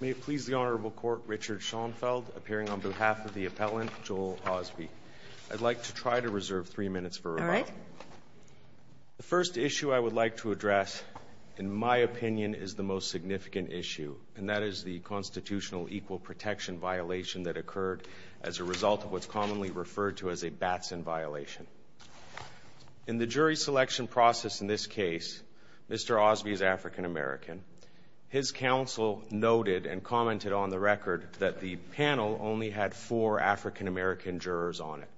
May it please the Honorable Court, Richard Schoenfeld appearing on behalf of the Appellant, Joel Ausbie. I'd like to try to reserve three minutes for rebuttal. The first issue I would like to address, in my opinion, is the most significant issue, and that is the constitutional equal protection violation that occurred as a result of what's commonly referred to as a Batson violation. In the jury selection process in this case, Mr. Ausbie is African American. His counsel noted and commented on the record that the panel only had four African American jurors on it.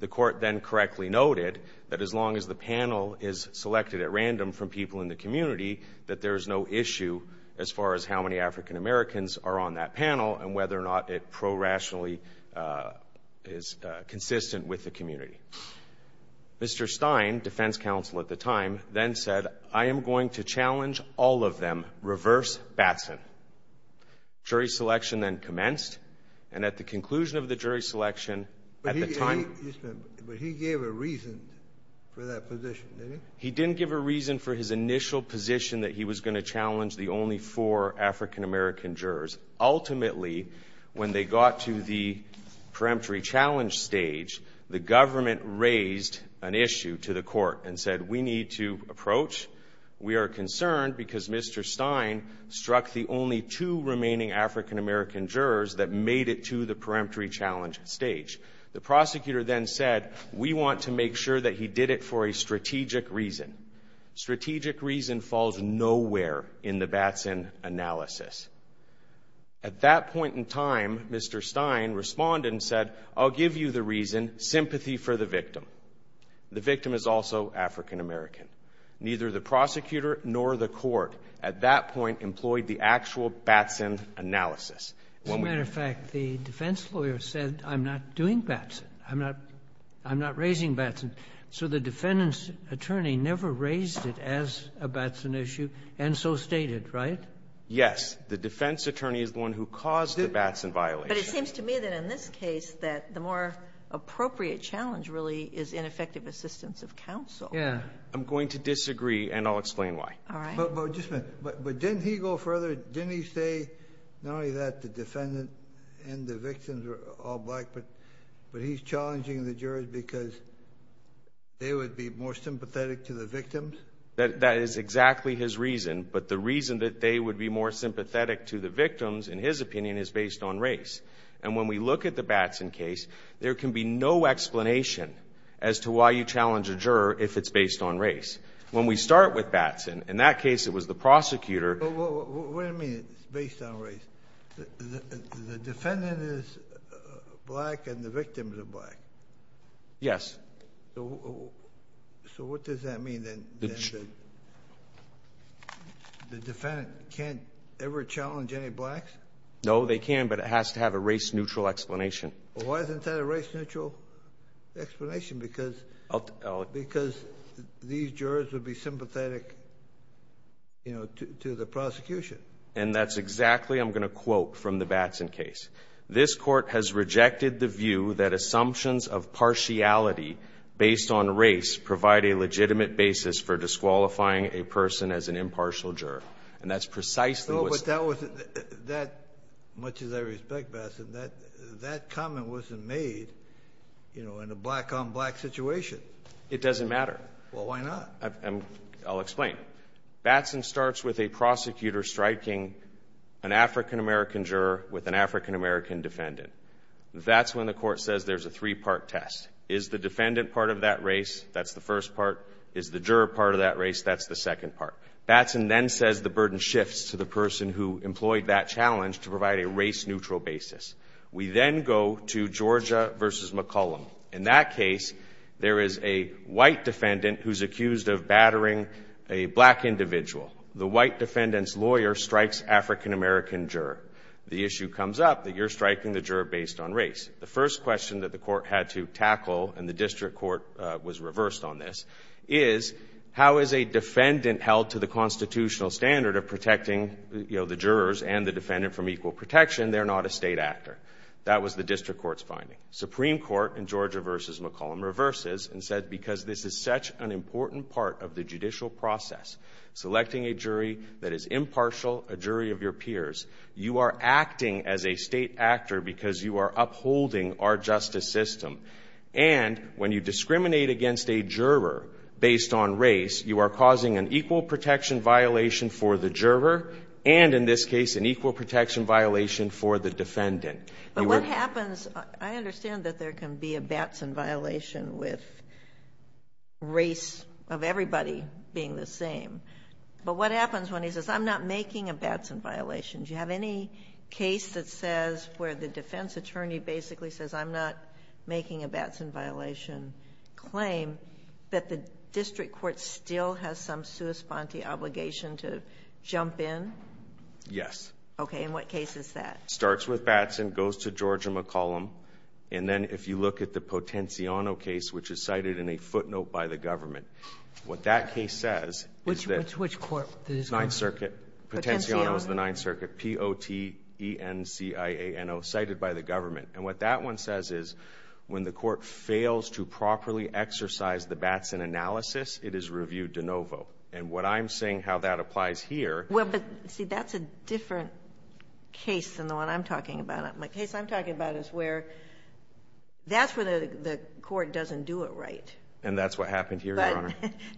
The court then correctly noted that as long as the panel is selected at random from people in the community, that there is no issue as far as how many African Americans are on that panel and whether or not it prorationally is consistent with the community. Mr. Stein, defense counsel at the time, then said, I am going to challenge all of them, reverse Batson. Jury selection then commenced, and at the conclusion of the jury selection, at the time But he gave a reason for that position, didn't he? He didn't give a reason for his initial position that he was going to challenge the only four African American jurors. Ultimately, when they got to the peremptory challenge stage, the government raised an issue to the court and said, we need to approach. We are concerned because Mr. Stein struck the only two remaining African American jurors that made it to the peremptory challenge stage. The prosecutor then said, we want to make sure that he did it for a strategic reason. Strategic reason falls nowhere in the Batson analysis. At that point in time, Mr. Stein responded and said, I'll give you the reason, sympathy for the victim. The victim is also African American. Neither the prosecutor nor the court at that point employed the actual Batson analysis. As a matter of fact, the defense lawyer said, I'm not doing Batson. I'm not raising Batson. So the defendant's attorney never raised it as a Batson issue and so stated, right? Yes, the defense attorney is the one who caused the Batson violation. But it seems to me that in this case that the more appropriate challenge really is ineffective assistance of counsel. Yeah. I'm going to disagree and I'll explain why. All right. But didn't he go further? Didn't he say not only that the defendant and the victims were all black, but he's challenging the jurors because they would be more sympathetic to the victims? That is exactly his reason. But the reason that they would be more sympathetic to the victims, in his opinion, is based on race. And when we look at the Batson case, there can be no explanation as to why you challenge a juror if it's based on race. When we start with Batson, in that case it was the prosecutor. What do you mean it's based on race? The defendant is black and the victims are black. Yes. So what does that mean? The defendant can't ever challenge any blacks? No, they can, but it has to have a race-neutral explanation. Why isn't that a race-neutral explanation? Because these jurors would be sympathetic to the prosecution. And that's exactly, I'm going to quote from the Batson case, this court has rejected the view that assumptions of partiality based on race provide a legitimate basis for disqualifying a person as an impartial juror. And that's precisely what's... No, but that was, much as I respect Batson, that comment wasn't made, you know, in a black-on-black situation. It doesn't matter. Well, why not? I'll explain. Batson starts with a prosecutor striking an African-American juror with an African-American defendant. That's when the court says there's a three-part test. Is the defendant part of that race? That's the first part. Is the juror part of that race? That's the second part. Batson then says the burden shifts to the person who employed that challenge to provide a race-neutral basis. We then go to Georgia v. McCollum. In that case, there is a white defendant who's accused of battering a black individual. The white defendant's lawyer strikes African-American juror. The issue comes up that you're striking the juror based on race. The first question that the court had to tackle, and the district court was reversed on this, is how is a defendant held to the constitutional standard of protecting, you know, the jurors and the defendant from equal protection? They're not a state actor. That was the district court's finding. Supreme Court in Georgia v. McCollum reverses and said because this is such an important part of the judicial process, selecting a jury that is impartial, a jury of your peers, you are acting as a state actor because you are upholding our justice system. And when you discriminate against a juror based on race, you are causing an equal protection violation for the juror and, in this case, an equal protection violation for the defendant. But what happens... I understand that there can be a Batson violation with race of everybody being the same. But what happens when he says, I'm not making a Batson violation? Do you have any case that says, where the defense attorney basically says, I'm not making a Batson violation claim, that the district court still has some sui sponte obligation to jump in? Yes. Okay. In what case is that? Starts with Batson, goes to Georgia McCollum, and then if you look at the Potenciano case, which is cited in a footnote by the government, what that case says is that... Which court? Ninth Circuit. Potenciano is the Ninth Circuit, P-O-T-E-N-C-I-A-N-O, cited by the government. And what that one says is when the court fails to properly exercise the Batson analysis, it is reviewed de novo. Well, but see, that's a different case than the one I'm talking about. My case I'm talking about is where that's when the court doesn't do it right. And that's what happened here, Your Honor.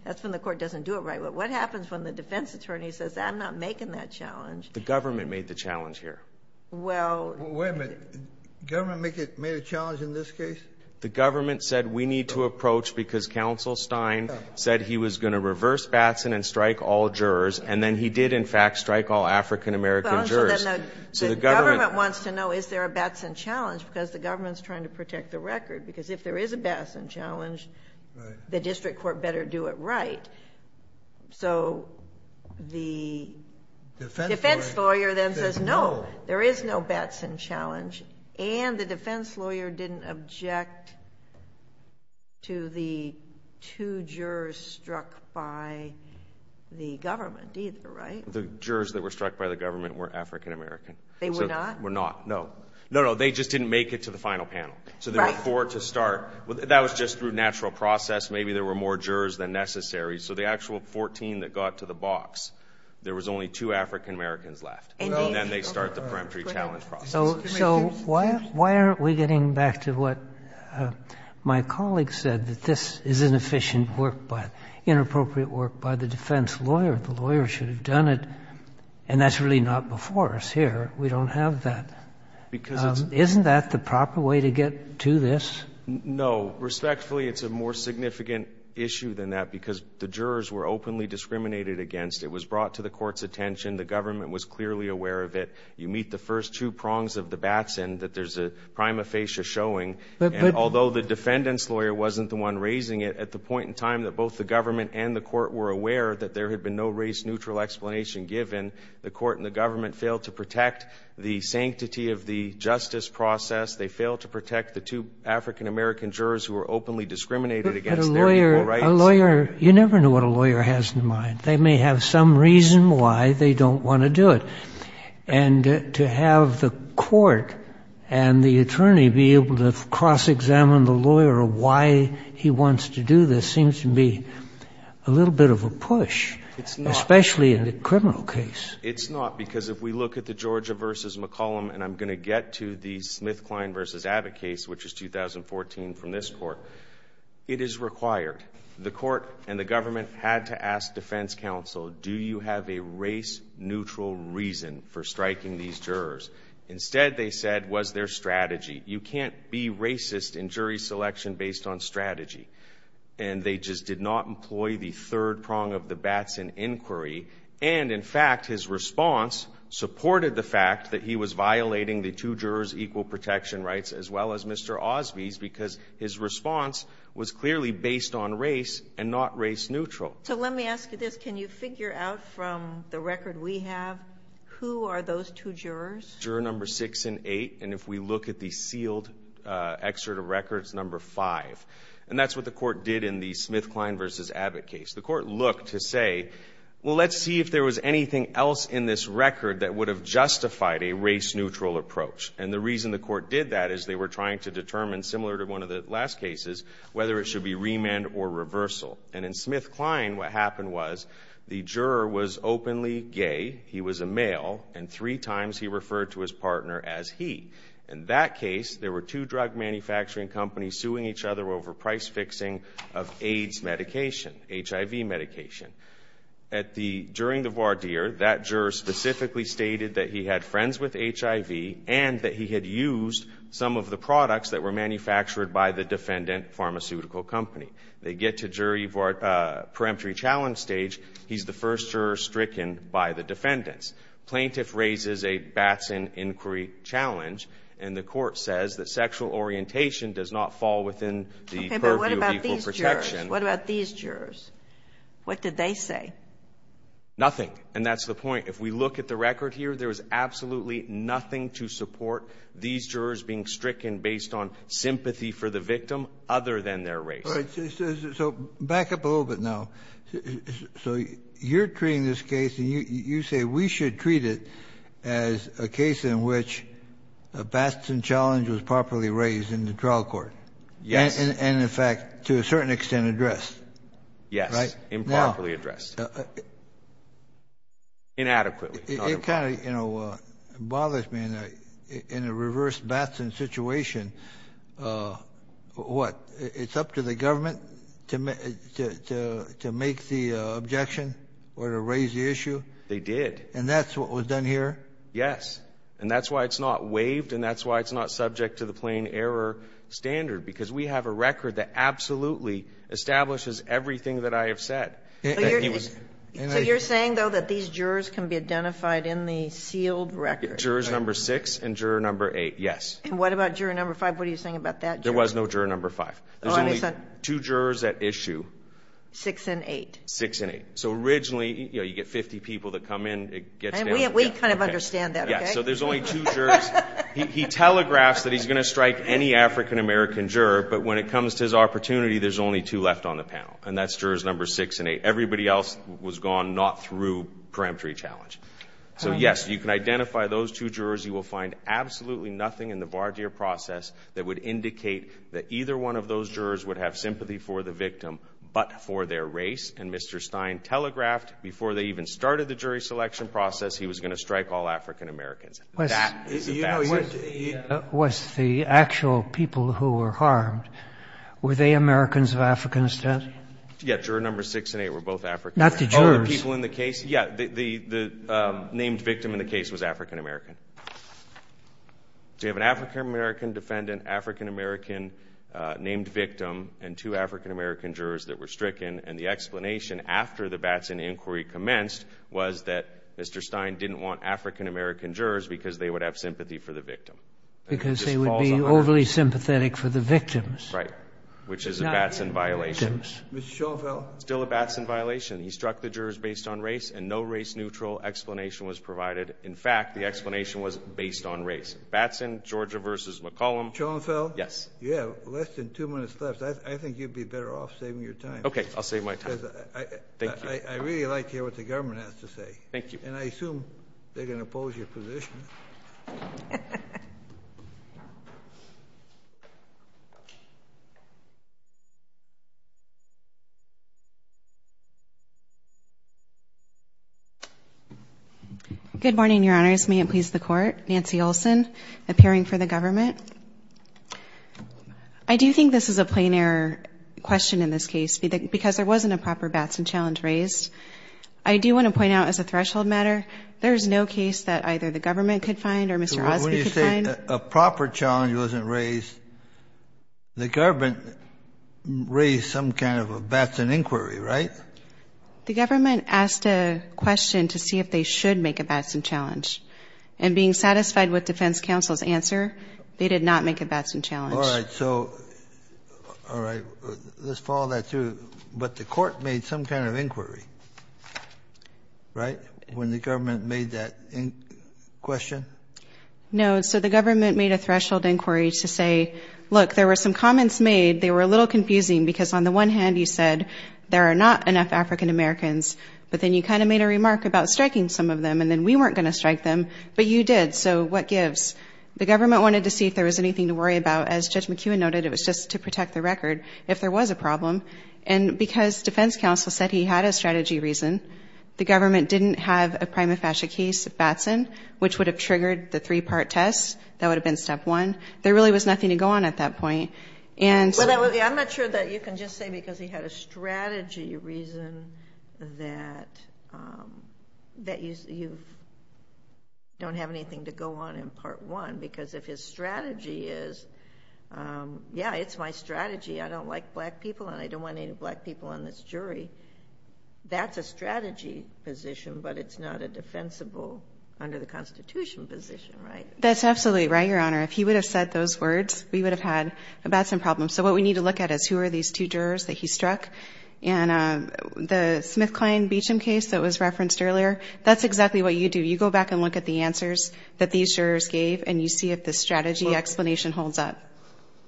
That's when the court doesn't do it right. But what happens when the defense attorney says, I'm not making that challenge? The government made the challenge here. Well... Wait a minute. The government made a challenge in this case? The government said, we need to approach because Counsel Stein said he was going to reverse Batson and strike all jurors. And then he did, in fact, strike all African-American jurors. So the government... The government wants to know is there a Batson challenge because the government is trying to protect the record. Because if there is a Batson challenge, the district court better do it right. So the defense lawyer then says, no, there is no Batson challenge. And the defense lawyer didn't object to the two jurors struck by the government either, right? The jurors that were struck by the government were African-American. They were not? They were not, no. No, no, they just didn't make it to the final panel. So there were four to start. That was just through natural process. Maybe there were more jurors than necessary. So the actual 14 that got to the box, there was only two African-Americans left. And then they start the preemptory challenge process. So why aren't we getting back to what my colleague said, that this is inefficient work, inappropriate work by the defense lawyer? The lawyer should have done it. And that's really not before us here. We don't have that. Because it's... Isn't that the proper way to get to this? No. Respectfully, it's a more significant issue than that because the jurors were openly discriminated against. It was brought to the court's attention. The government was clearly aware of it. You meet the first two prongs of the Batson that there's a prima facie showing. But... And although the defendant's lawyer wasn't the one raising it, at the point in time that both the government and the court were aware that there had been no race-neutral explanation given, the court and the government failed to protect the sanctity of the justice process. They failed to protect the two African-American jurors who were openly discriminated against... But a lawyer...... their legal rights... A lawyer, you never know what a lawyer has in mind. They may have some reason why they don't want to do it. And to have the court and the attorney be able to cross-examine the lawyer of why he wants to do this seems to be a little bit of a push... It's not.... especially in a criminal case. It's not because if we look at the Georgia v. McCollum... And I'm going to get to the SmithKline v. Abbott case, which is 2014 from this court. It is required. The court and the government had to ask defense counsel, do you have a race-neutral reason for striking these jurors? Instead, they said, was there strategy? You can't be racist in jury selection based on strategy. And they just did not employ the third prong of the Batson inquiry. And, in fact, his response supported the fact that he was violating the two jurors' equal protection rights as well as Mr. Osby's... So, let me ask you this. Can you figure out from the record we have, who are those two jurors? Juror number 6 and 8. And if we look at the sealed excerpt of records, number 5. And that's what the court did in the SmithKline v. Abbott case. The court looked to say, well, let's see if there was anything else in this record that would have justified a race-neutral approach. And the reason the court did that is they were trying to determine, similar to one of the last cases, whether it should be remand or reversal. And in SmithKline, what happened was the juror was openly gay. He was a male. And three times, he referred to his partner as he. In that case, there were two drug manufacturing companies suing each other over price fixing of AIDS medication, HIV medication. During the voir dire, that juror specifically stated that he had friends with HIV and that he had used some of the products that were manufactured by the defendant pharmaceutical company. They get to jury preemptory challenge stage. He's the first juror stricken by the defendants. Plaintiff raises a Batson inquiry challenge, and the court says that sexual orientation does not fall within the purview of equal protection. Okay, but what about these jurors? What about these jurors? What did they say? Nothing. And that's the point. If we look at the record here, there is absolutely nothing to support these jurors being stricken based on sympathy for the victim other than their race. All right, so back up a little bit now. So you're treating this case, and you say we should treat it as a case in which a Batson challenge was properly raised in the trial court. Yes. And, in fact, to a certain extent, addressed. Yes, improperly addressed. Inadequately. It kind of, you know, bothers me in a reverse Batson situation, what, it's up to the government to make the objection or to raise the issue? They did. And that's what was done here? Yes. And that's why it's not waived, and that's why it's not subject to the plain error standard, because we have a record that absolutely establishes everything that I have said. So you're saying, though, that these jurors can be identified in the sealed record? Jurors number 6 and juror number 8, yes. And what about juror number 5? What are you saying about that juror? There was no juror number 5. There's only two jurors at issue. Six and eight. Six and eight. So originally, you know, you get 50 people that come in. We kind of understand that, okay? So there's only two jurors. He telegraphs that he's going to strike any African-American juror, but when it comes to his opportunity, there's only two left on the panel, and that's jurors number 6 and 8. Everybody else was gone not through peremptory challenge. So, yes, you can identify those two jurors. You will find absolutely nothing in the Bardeer process that would indicate that either one of those jurors would have sympathy for the victim but for their race. And Mr. Stein telegraphed before they even started the jury selection process he was going to strike all African-Americans. That is a facet. Was the actual people who were harmed, were they Americans of African descent? Yeah, juror number 6 and 8 were both African. Not the jurors. Oh, the people in the case? Yeah, the named victim in the case was African-American. So you have an African-American defendant, African-American named victim, and two African-American jurors that were stricken. And the explanation after the Batson inquiry commenced was that Mr. Stein didn't want African-American jurors because they would have sympathy for the victim. Because they would be overly sympathetic for the victims. Right, which is a Batson violation. Mr. Schaufel. Still a Batson violation. He struck the jurors based on race, and no race-neutral explanation was provided. In fact, the explanation was based on race. Batson, Georgia v. McCollum. Schaufel. Yes. You have less than two minutes left. I think you'd be better off saving your time. Okay, I'll save my time. Thank you. Because I really like to hear what the government has to say. Thank you. And I assume they're going to oppose your position. Good morning, Your Honors. May it please the Court. Nancy Olson, appearing for the government. I do think this is a plain error question in this case, because there wasn't a proper Batson challenge raised. I do want to point out, as a threshold matter, there is no case that either the government or the jurors have said that there was a Batson violation. When you say a proper challenge wasn't raised, the government raised some kind of a Batson inquiry, right? The government asked a question to see if they should make a Batson challenge. And being satisfied with defense counsel's answer, they did not make a Batson challenge. All right. So, all right. Let's follow that through. But the court made some kind of inquiry, right? When the government made that question? No. So, the government made a threshold inquiry to say, look, there were some comments made. They were a little confusing, because on the one hand, you said there are not enough African Americans. But then you kind of made a remark about striking some of them, and then we weren't going to strike them. But you did. So, what gives? The government wanted to see if there was anything to worry about. As Judge McKeown noted, it was just to protect the record, if there was a problem. And because defense counsel said he had a strategy reason, the government didn't have a prima facie case of Batson, which would have triggered the three-part test. That would have been step one. There really was nothing to go on at that point. I'm not sure that you can just say because he had a strategy reason that you don't have anything to go on in part one. Because if his strategy is, yeah, it's my strategy. I don't like black people, and I don't want any black people on this jury. That's a strategy position, but it's not a defensible under the Constitution position, right? That's absolutely right, Your Honor. If he would have said those words, we would have had a Batson problem. So, what we need to look at is who are these two jurors that he struck? And the SmithKline-Beacham case that was referenced earlier, that's exactly what you do. You go back and look at the answers that these jurors gave, and you see if the strategy explanation holds up.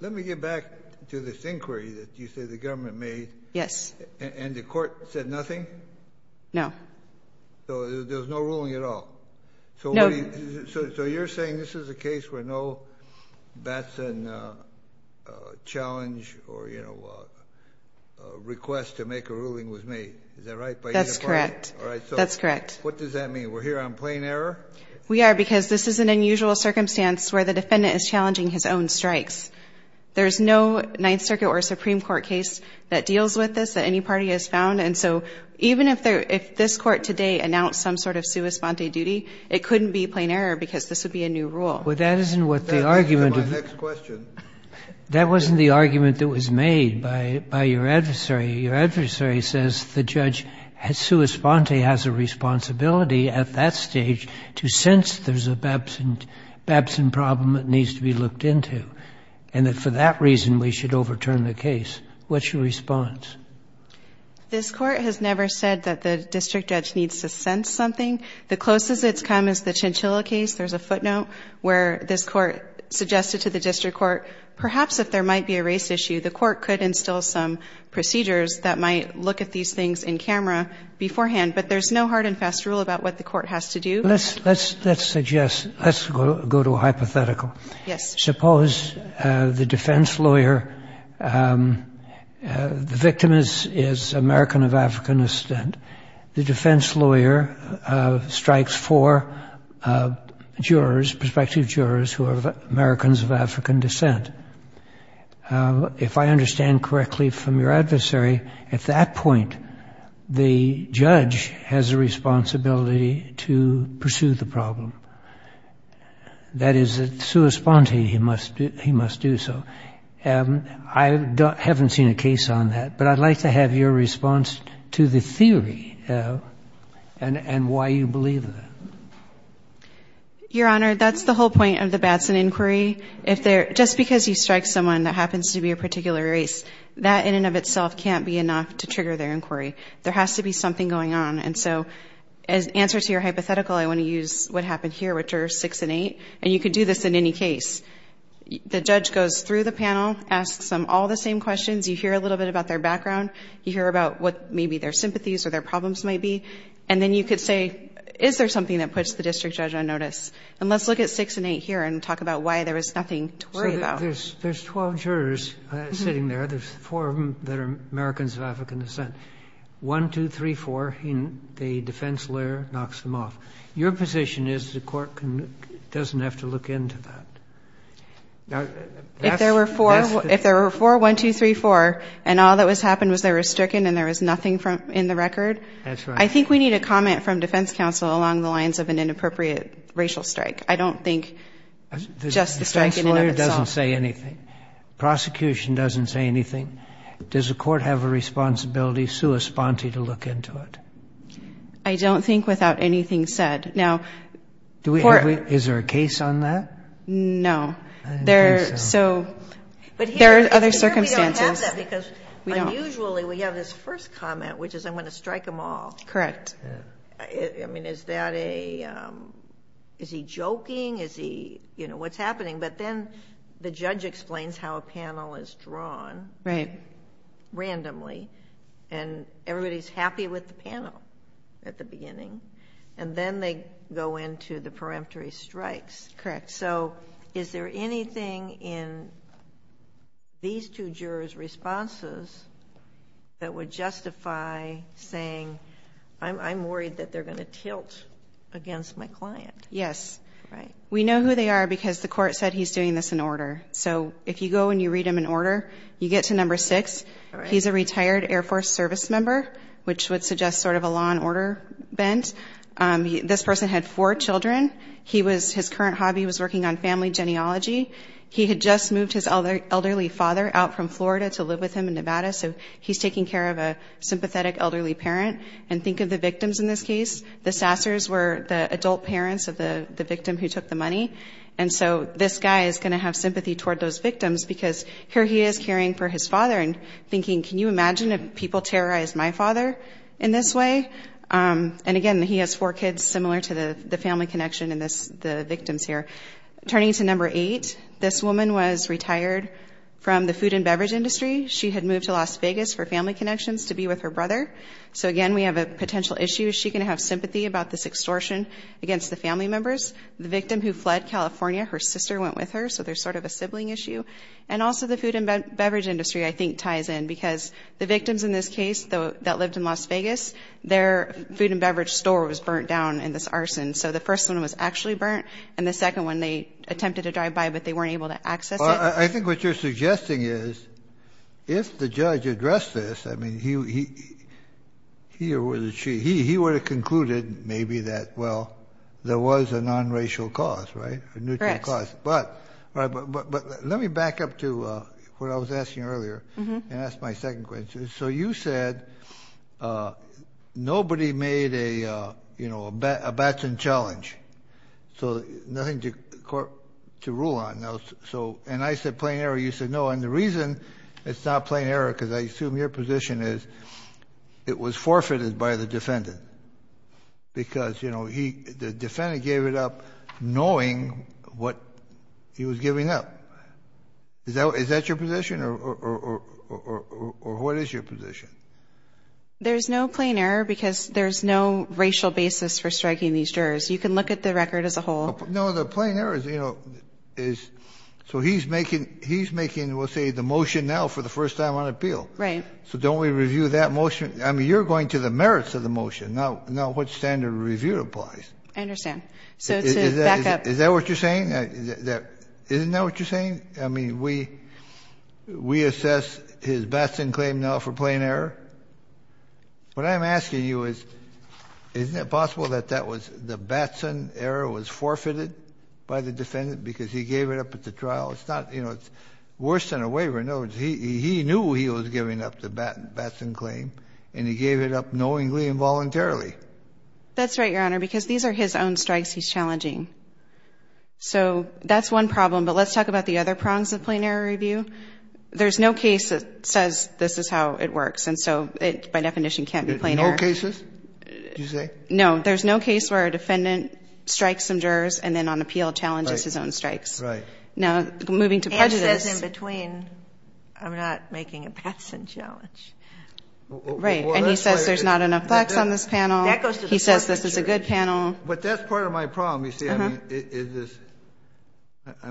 Let me get back to this inquiry that you say the government made. Yes. And the court said nothing? No. So, there's no ruling at all? No. So, you're saying this is a case where no Batson challenge or, you know, request to make a ruling was made. Is that right? That's correct. All right. So, what does that mean? We're here on plain error? We are, because this is an unusual circumstance where the defendant is challenging his own strikes. There's no Ninth Circuit or Supreme Court case that deals with this that any party has found. And so, even if this Court today announced some sort of sua sponte duty, it couldn't be plain error because this would be a new rule. Well, that isn't what the argument is. That wasn't the argument that was made by your adversary. Your adversary says the judge sua sponte has a responsibility at that stage to sense there's a Batson problem that needs to be looked into, and that for that reason we should overturn the case. What's your response? This Court has never said that the district judge needs to sense something. The closest it's come is the Chinchilla case. There's a footnote where this Court suggested to the district court, perhaps if there might be a race issue, the Court could instill some procedures that might look at these things in camera beforehand. But there's no hard and fast rule about what the Court has to do. Let's suggest, let's go to a hypothetical. Yes. Suppose the defense lawyer, the victim is American of African descent. The defense lawyer strikes four jurors, prospective jurors who are Americans of African descent. If I understand correctly from your adversary, at that point the judge has a responsibility to pursue the problem. That is, sua sponte, he must do so. I haven't seen a case on that, but I'd like to have your response to the theory and why you believe that. Your Honor, that's the whole point of the Batson inquiry. Just because you strike someone that happens to be a particular race, that in and of itself can't be enough to trigger their inquiry. There has to be something going on. And so as an answer to your hypothetical, I want to use what happened here with jurors six and eight. And you could do this in any case. The judge goes through the panel, asks them all the same questions. You hear a little bit about their background. You hear about what maybe their sympathies or their problems might be. And then you could say, is there something that puts the district judge on notice? And let's look at six and eight here and talk about why there was nothing to worry about. So there's 12 jurors sitting there. There's four of them that are Americans of African descent. One, two, three, four, the defense lawyer knocks them off. Your position is the court doesn't have to look into that. If there were four, one, two, three, four, and all that was happened was they were stricken and there was nothing in the record? That's right. I think we need a comment from defense counsel along the lines of an inappropriate racial strike. I don't think just the strike in and of itself. The defense lawyer doesn't say anything. Prosecution doesn't say anything. Does the court have a responsibility sua sponte to look into it? I don't think without anything said. Now, court — Is there a case on that? No. I don't think so. There are other circumstances. Usually we have this first comment, which is I'm going to strike them all. Correct. I mean, is that a — is he joking? Is he — you know, what's happening? But then the judge explains how a panel is drawn. Right. Randomly. And everybody's happy with the panel at the beginning. And then they go into the peremptory strikes. Correct. So is there anything in these two jurors' responses that would justify saying, I'm worried that they're going to tilt against my client? Yes. Right. We know who they are because the court said he's doing this in order. So if you go and you read them in order, you get to number six. He's a retired Air Force service member, which would suggest sort of a law and order bent. This person had four children. His current hobby was working on family genealogy. He had just moved his elderly father out from Florida to live with him in Nevada, so he's taking care of a sympathetic elderly parent. And think of the victims in this case. The Sassers were the adult parents of the victim who took the money. And so this guy is going to have sympathy toward those victims because here he is caring for his father and thinking, can you imagine if people terrorized my father in this way? And, again, he has four kids similar to the family connection in the victims here. Turning to number eight, this woman was retired from the food and beverage industry. She had moved to Las Vegas for family connections to be with her brother. So, again, we have a potential issue. Is she going to have sympathy about this extortion against the family members? The victim who fled California, her sister went with her, so there's sort of a sibling issue. And also the food and beverage industry, I think, ties in because the victims in this case that lived in Las Vegas, their food and beverage store was burnt down in this arson. So the first one was actually burnt, and the second one they attempted to drive by, but they weren't able to access it. I think what you're suggesting is if the judge addressed this, I mean, he or would she, he would have concluded maybe that, well, there was a non-racial cause, right, a neutral cause. But let me back up to what I was asking earlier and ask my second question. So you said nobody made a batsman challenge, so nothing to rule on. And I said plain error. You said no. And the reason it's not plain error, because I assume your position is it was forfeited by the defendant because the defendant gave it up knowing what he was giving up. Is that your position, or what is your position? There's no plain error because there's no racial basis for striking these jurors. You can look at the record as a whole. No, the plain error is, so he's making, we'll say, the motion now for the first time on appeal. Right. So don't we review that motion? I mean, you're going to the merits of the motion, not what standard of review applies. I understand. So to back up. Is that what you're saying? Isn't that what you're saying? I mean, we assess his batsman claim now for plain error. What I'm asking you is isn't it possible that that was the batsman error was forfeited by the defendant because he gave it up at the trial? It's not, you know, it's worse than a waiver. He knew he was giving up the batsman claim, and he gave it up knowingly and voluntarily. That's right, Your Honor, because these are his own strikes he's challenging. So that's one problem. But let's talk about the other prongs of plain error review. There's no case that says this is how it works, and so it, by definition, can't be plain error. No cases, did you say? No. There's no case where a defendant strikes some jurors and then on appeal challenges his own strikes. Right. Now, moving to prejudice. He says in between, I'm not making a batsman challenge. Right, and he says there's not enough facts on this panel. He says this is a good panel. But that's part of my problem, you see. I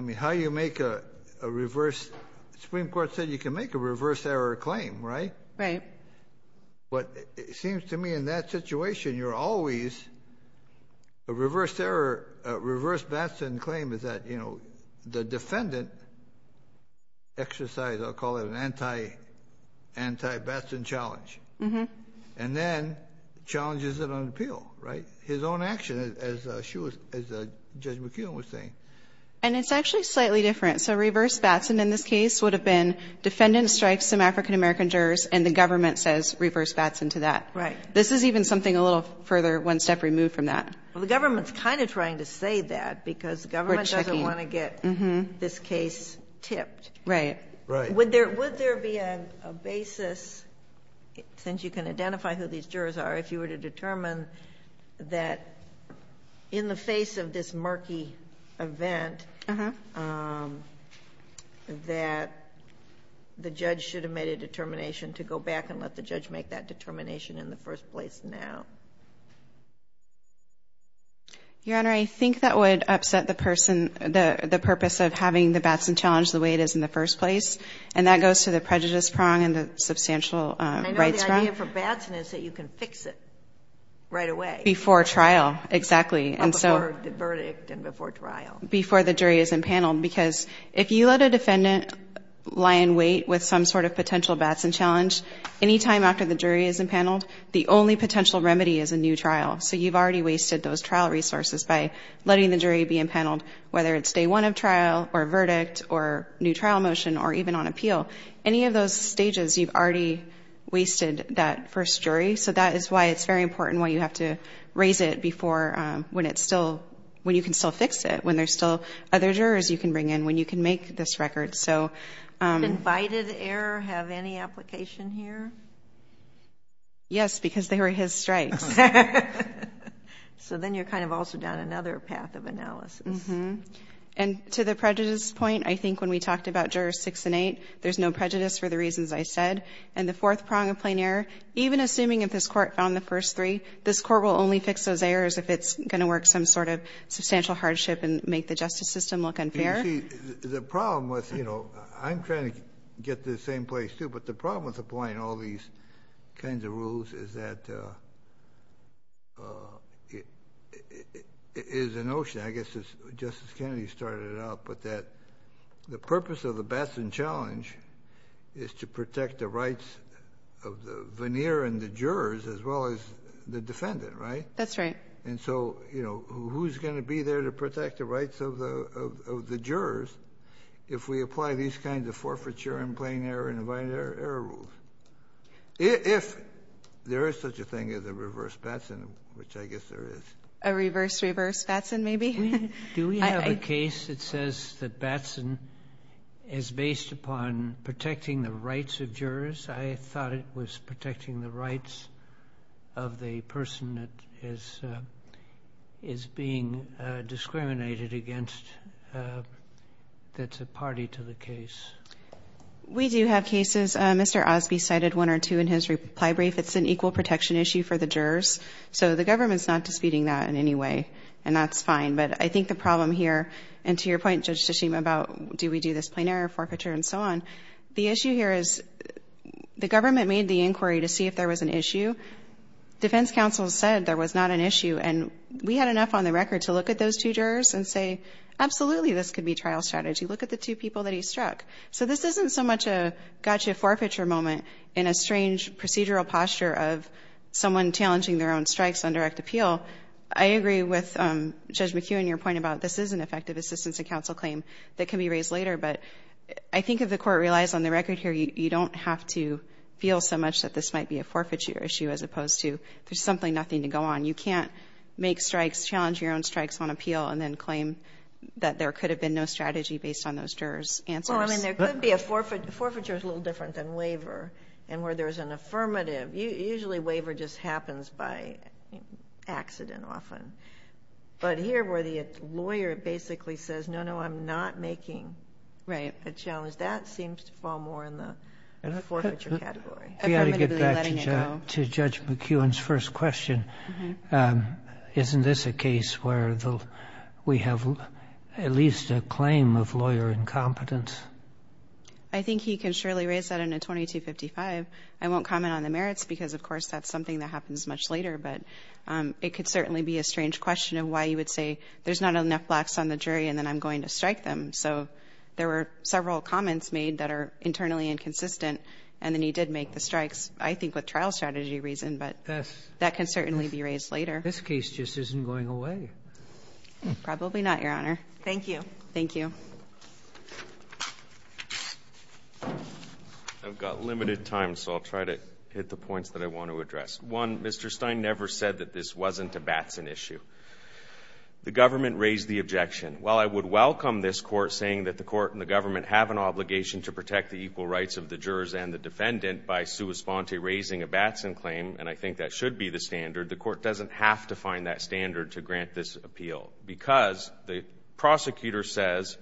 mean, how you make a reverse, the Supreme Court said you can make a reverse error claim, right? Right. But it seems to me in that situation you're always a reverse error, a reverse batsman claim is that, you know, the defendant exercised, I'll call it an anti-batsman challenge, and then challenges it on appeal, right? His own action, as Judge McKeon was saying. And it's actually slightly different. So reverse batsman in this case would have been defendant strikes some African-American jurors and the government says reverse bats into that. Right. This is even something a little further one step removed from that. Well, the government's kind of trying to say that because the government doesn't want to get this case tipped. Right. Would there be a basis, since you can identify who these jurors are, if you were to determine that in the face of this murky event that the judge should have made a determination to go back and let the judge make that determination in the first place now? Your Honor, I think that would upset the person, the purpose of having the batsman challenge the way it is in the first place. And that goes to the prejudice prong and the substantial rights prong. And I know the idea for batsman is that you can fix it right away. Before trial, exactly. Or before the verdict and before trial. Before the jury is impaneled. Because if you let a defendant lie in wait with some sort of potential batsman challenge, any time after the jury is impaneled, the only potential remedy is a new trial. So you've already wasted those trial resources by letting the jury be impaneled, whether it's day one of trial or verdict or new trial motion or even on appeal. Any of those stages, you've already wasted that first jury. So that is why it's very important why you have to raise it before when you can still fix it, when there's still other jurors you can bring in, when you can make this record. Did invited error have any application here? Yes, because they were his strikes. So then you're kind of also down another path of analysis. And to the prejudice point, I think when we talked about jurors six and eight, there's no prejudice for the reasons I said. And the fourth prong of plain error, even assuming if this court found the first three, this court will only fix those errors if it's going to work some sort of substantial hardship and make the justice system look unfair. You see, the problem with, you know, I'm trying to get to the same place, too, but the problem with applying all these kinds of rules is that it is a notion, I guess as Justice Kennedy started it out, but that the purpose of the Batson Challenge is to protect the rights of the veneer and the jurors as well as the defendant, right? That's right. And so, you know, who's going to be there to protect the rights of the jurors if we apply these kinds of forfeiture and plain error and invited error rules? If there is such a thing as a reverse Batson, which I guess there is. A reverse reverse Batson maybe? Do we have a case that says that Batson is based upon protecting the rights of jurors? I thought it was protecting the rights of the person that is being discriminated against that's a party to the case. We do have cases. Mr. Osby cited one or two in his reply brief. It's an equal protection issue for the jurors, so the government's not disputing that in any way, and that's fine. But I think the problem here, and to your point, Judge Tshishima, about do we do this plain error forfeiture and so on, the issue here is the government made the inquiry to see if there was an issue. Defense counsel said there was not an issue, and we had enough on the record to look at those two jurors and say absolutely this could be trial strategy. Look at the two people that he struck. So this isn't so much a gotcha forfeiture moment in a strange procedural posture of someone challenging their own strikes on direct appeal. I agree with Judge McKeown, your point about this is an effective assistance and counsel claim that can be raised later, but I think if the court relies on the record here, you don't have to feel so much that this might be a forfeiture issue as opposed to there's simply nothing to go on. You can't make strikes, challenge your own strikes on appeal, and then claim that there could have been no strategy based on those jurors' answers. Well, I mean there could be a forfeiture. A forfeiture is a little different than waiver, and where there's an affirmative. Usually waiver just happens by accident often. But here where the lawyer basically says no, no, I'm not making a challenge, that seems to fall more in the forfeiture category. We ought to get back to Judge McKeown's first question. Isn't this a case where we have at least a claim of lawyer incompetence? I think he can surely raise that in a 2255. I won't comment on the merits because, of course, that's something that happens much later, but it could certainly be a strange question of why you would say there's not enough blacks on the jury and then I'm going to strike them. So there were several comments made that are internally inconsistent, and then he did make the strikes I think with trial strategy reason, but that can certainly be raised later. This case just isn't going away. Probably not, Your Honor. Thank you. Thank you. One, Mr. Stein never said that this wasn't a Batson issue. The government raised the objection. While I would welcome this court saying that the court and the government have an obligation to protect the equal rights of the jurors and the defendant by sua sponte raising a Batson claim, and I think that should be the standard, the court doesn't have to find that standard to grant this appeal because the prosecutor says,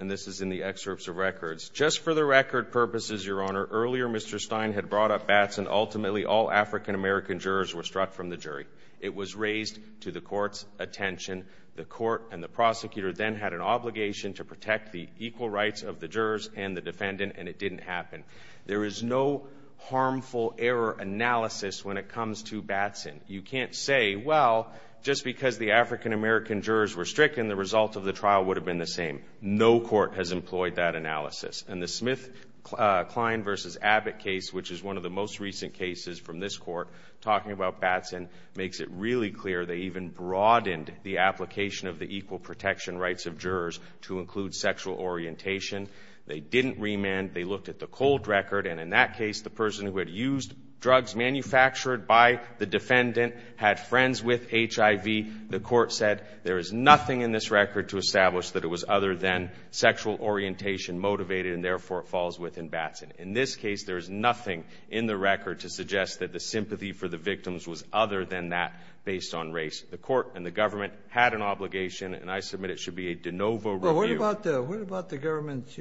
and this is in the excerpts of records, just for the record purposes, Your Honor, earlier Mr. Stein had brought up Batson. Ultimately, all African-American jurors were struck from the jury. It was raised to the court's attention. The court and the prosecutor then had an obligation to protect the equal rights of the jurors and the defendant, and it didn't happen. There is no harmful error analysis when it comes to Batson. You can't say, well, just because the African-American jurors were stricken, the result of the trial would have been the same. No court has employed that analysis. And the Smith-Klein v. Abbott case, which is one of the most recent cases from this court, talking about Batson makes it really clear they even broadened the application of the equal protection rights of jurors to include sexual orientation. They didn't remand. They looked at the cold record, and in that case the person who had used drugs manufactured by the defendant had friends with HIV. The court said there is nothing in this record to establish that it was other than sexual orientation motivated and, therefore, it falls within Batson. In this case, there is nothing in the record to suggest that the sympathy for the victims was other than that based on race. The court and the government had an obligation, and I submit it should be a de novo review. What about the government's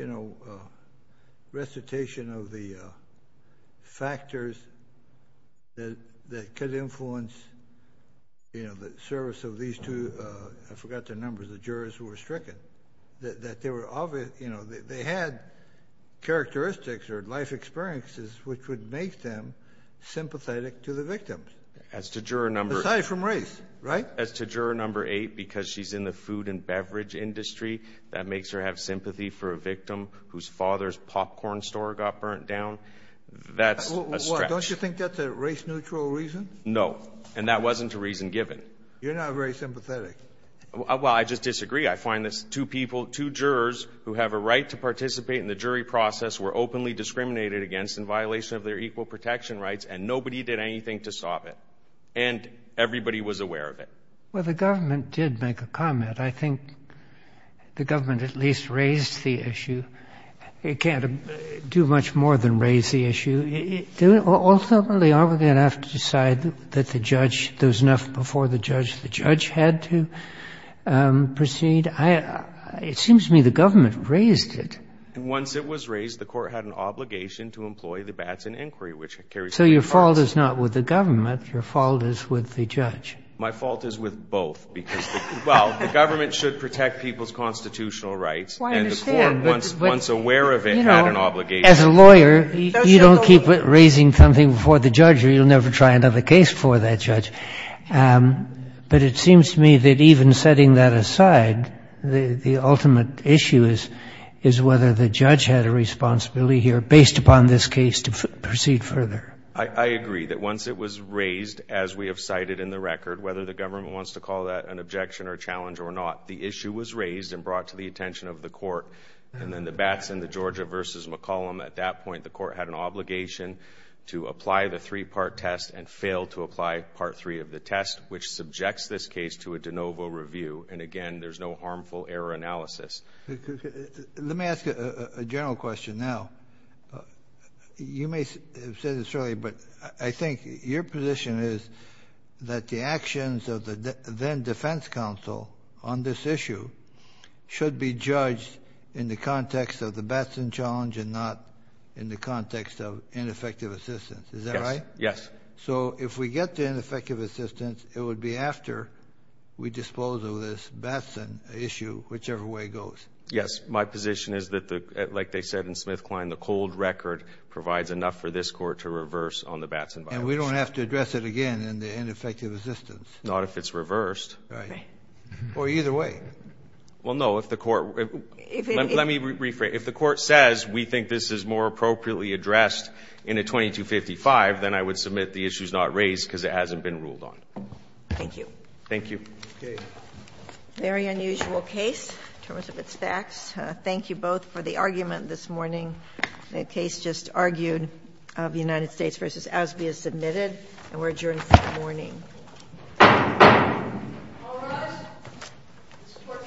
recitation of the factors that could influence the service of these two? I forgot their numbers, the jurors who were stricken. They had characteristics or life experiences which would make them sympathetic to the victim. Aside from race, right? As to juror number 8, because she's in the food and beverage industry, that makes her have sympathy for a victim whose father's popcorn store got burnt down. That's a stretch. Don't you think that's a race-neutral reason? No, and that wasn't a reason given. You're not very sympathetic. Well, I just disagree. I find that two people, two jurors who have a right to participate in the jury process were openly discriminated against in violation of their equal protection rights, and nobody did anything to stop it, and everybody was aware of it. Well, the government did make a comment. I think the government at least raised the issue. It can't do much more than raise the issue. Ultimately, aren't we going to have to decide that the judge, there was enough before the judge, the judge had to proceed? It seems to me the government raised it. Once it was raised, the court had an obligation to employ the bats in inquiry, which carries two parts. So your fault is not with the government. Your fault is with the judge. My fault is with both, because, well, the government should protect people's constitutional rights. Well, I understand. And the court, once aware of it, had an obligation. As a lawyer, you don't keep raising something before the judge, or you'll never try another case before that judge. But it seems to me that even setting that aside, the ultimate issue is whether the judge had a responsibility here based upon this case to proceed further. I agree that once it was raised, as we have cited in the record, whether the government wants to call that an objection or a challenge or not, the issue was raised and brought to the attention of the court, and then the bats in the Georgia v. McCollum. At that point, the court had an obligation to apply the three-part test and failed to apply Part 3 of the test, which subjects this case to a de novo review. And, again, there's no harmful error analysis. Let me ask a general question now. You may have said this earlier, but I think your position is that the actions of the then-Defense Counsel on this issue should be judged in the context of the Batson challenge and not in the context of ineffective assistance. Is that right? Yes. So if we get to ineffective assistance, it would be after we dispose of this Batson issue, whichever way it goes. Yes. My position is that, like they said in SmithKline, the cold record provides enough for this court to reverse on the Batson violation. And we don't have to address it again in the ineffective assistance. Not if it's reversed. Right. Or either way. Well, no. If the court — let me rephrase. If the court says we think this is more appropriately addressed in a 2255, then I would submit the issue is not raised because it hasn't been ruled on. Thank you. Thank you. Okay. Very unusual case in terms of its facts. Thank you both for the argument this morning. The case just argued of the United States v. Osby is submitted, and we're adjourned for the morning. All rise. This court's procession stands adjourned.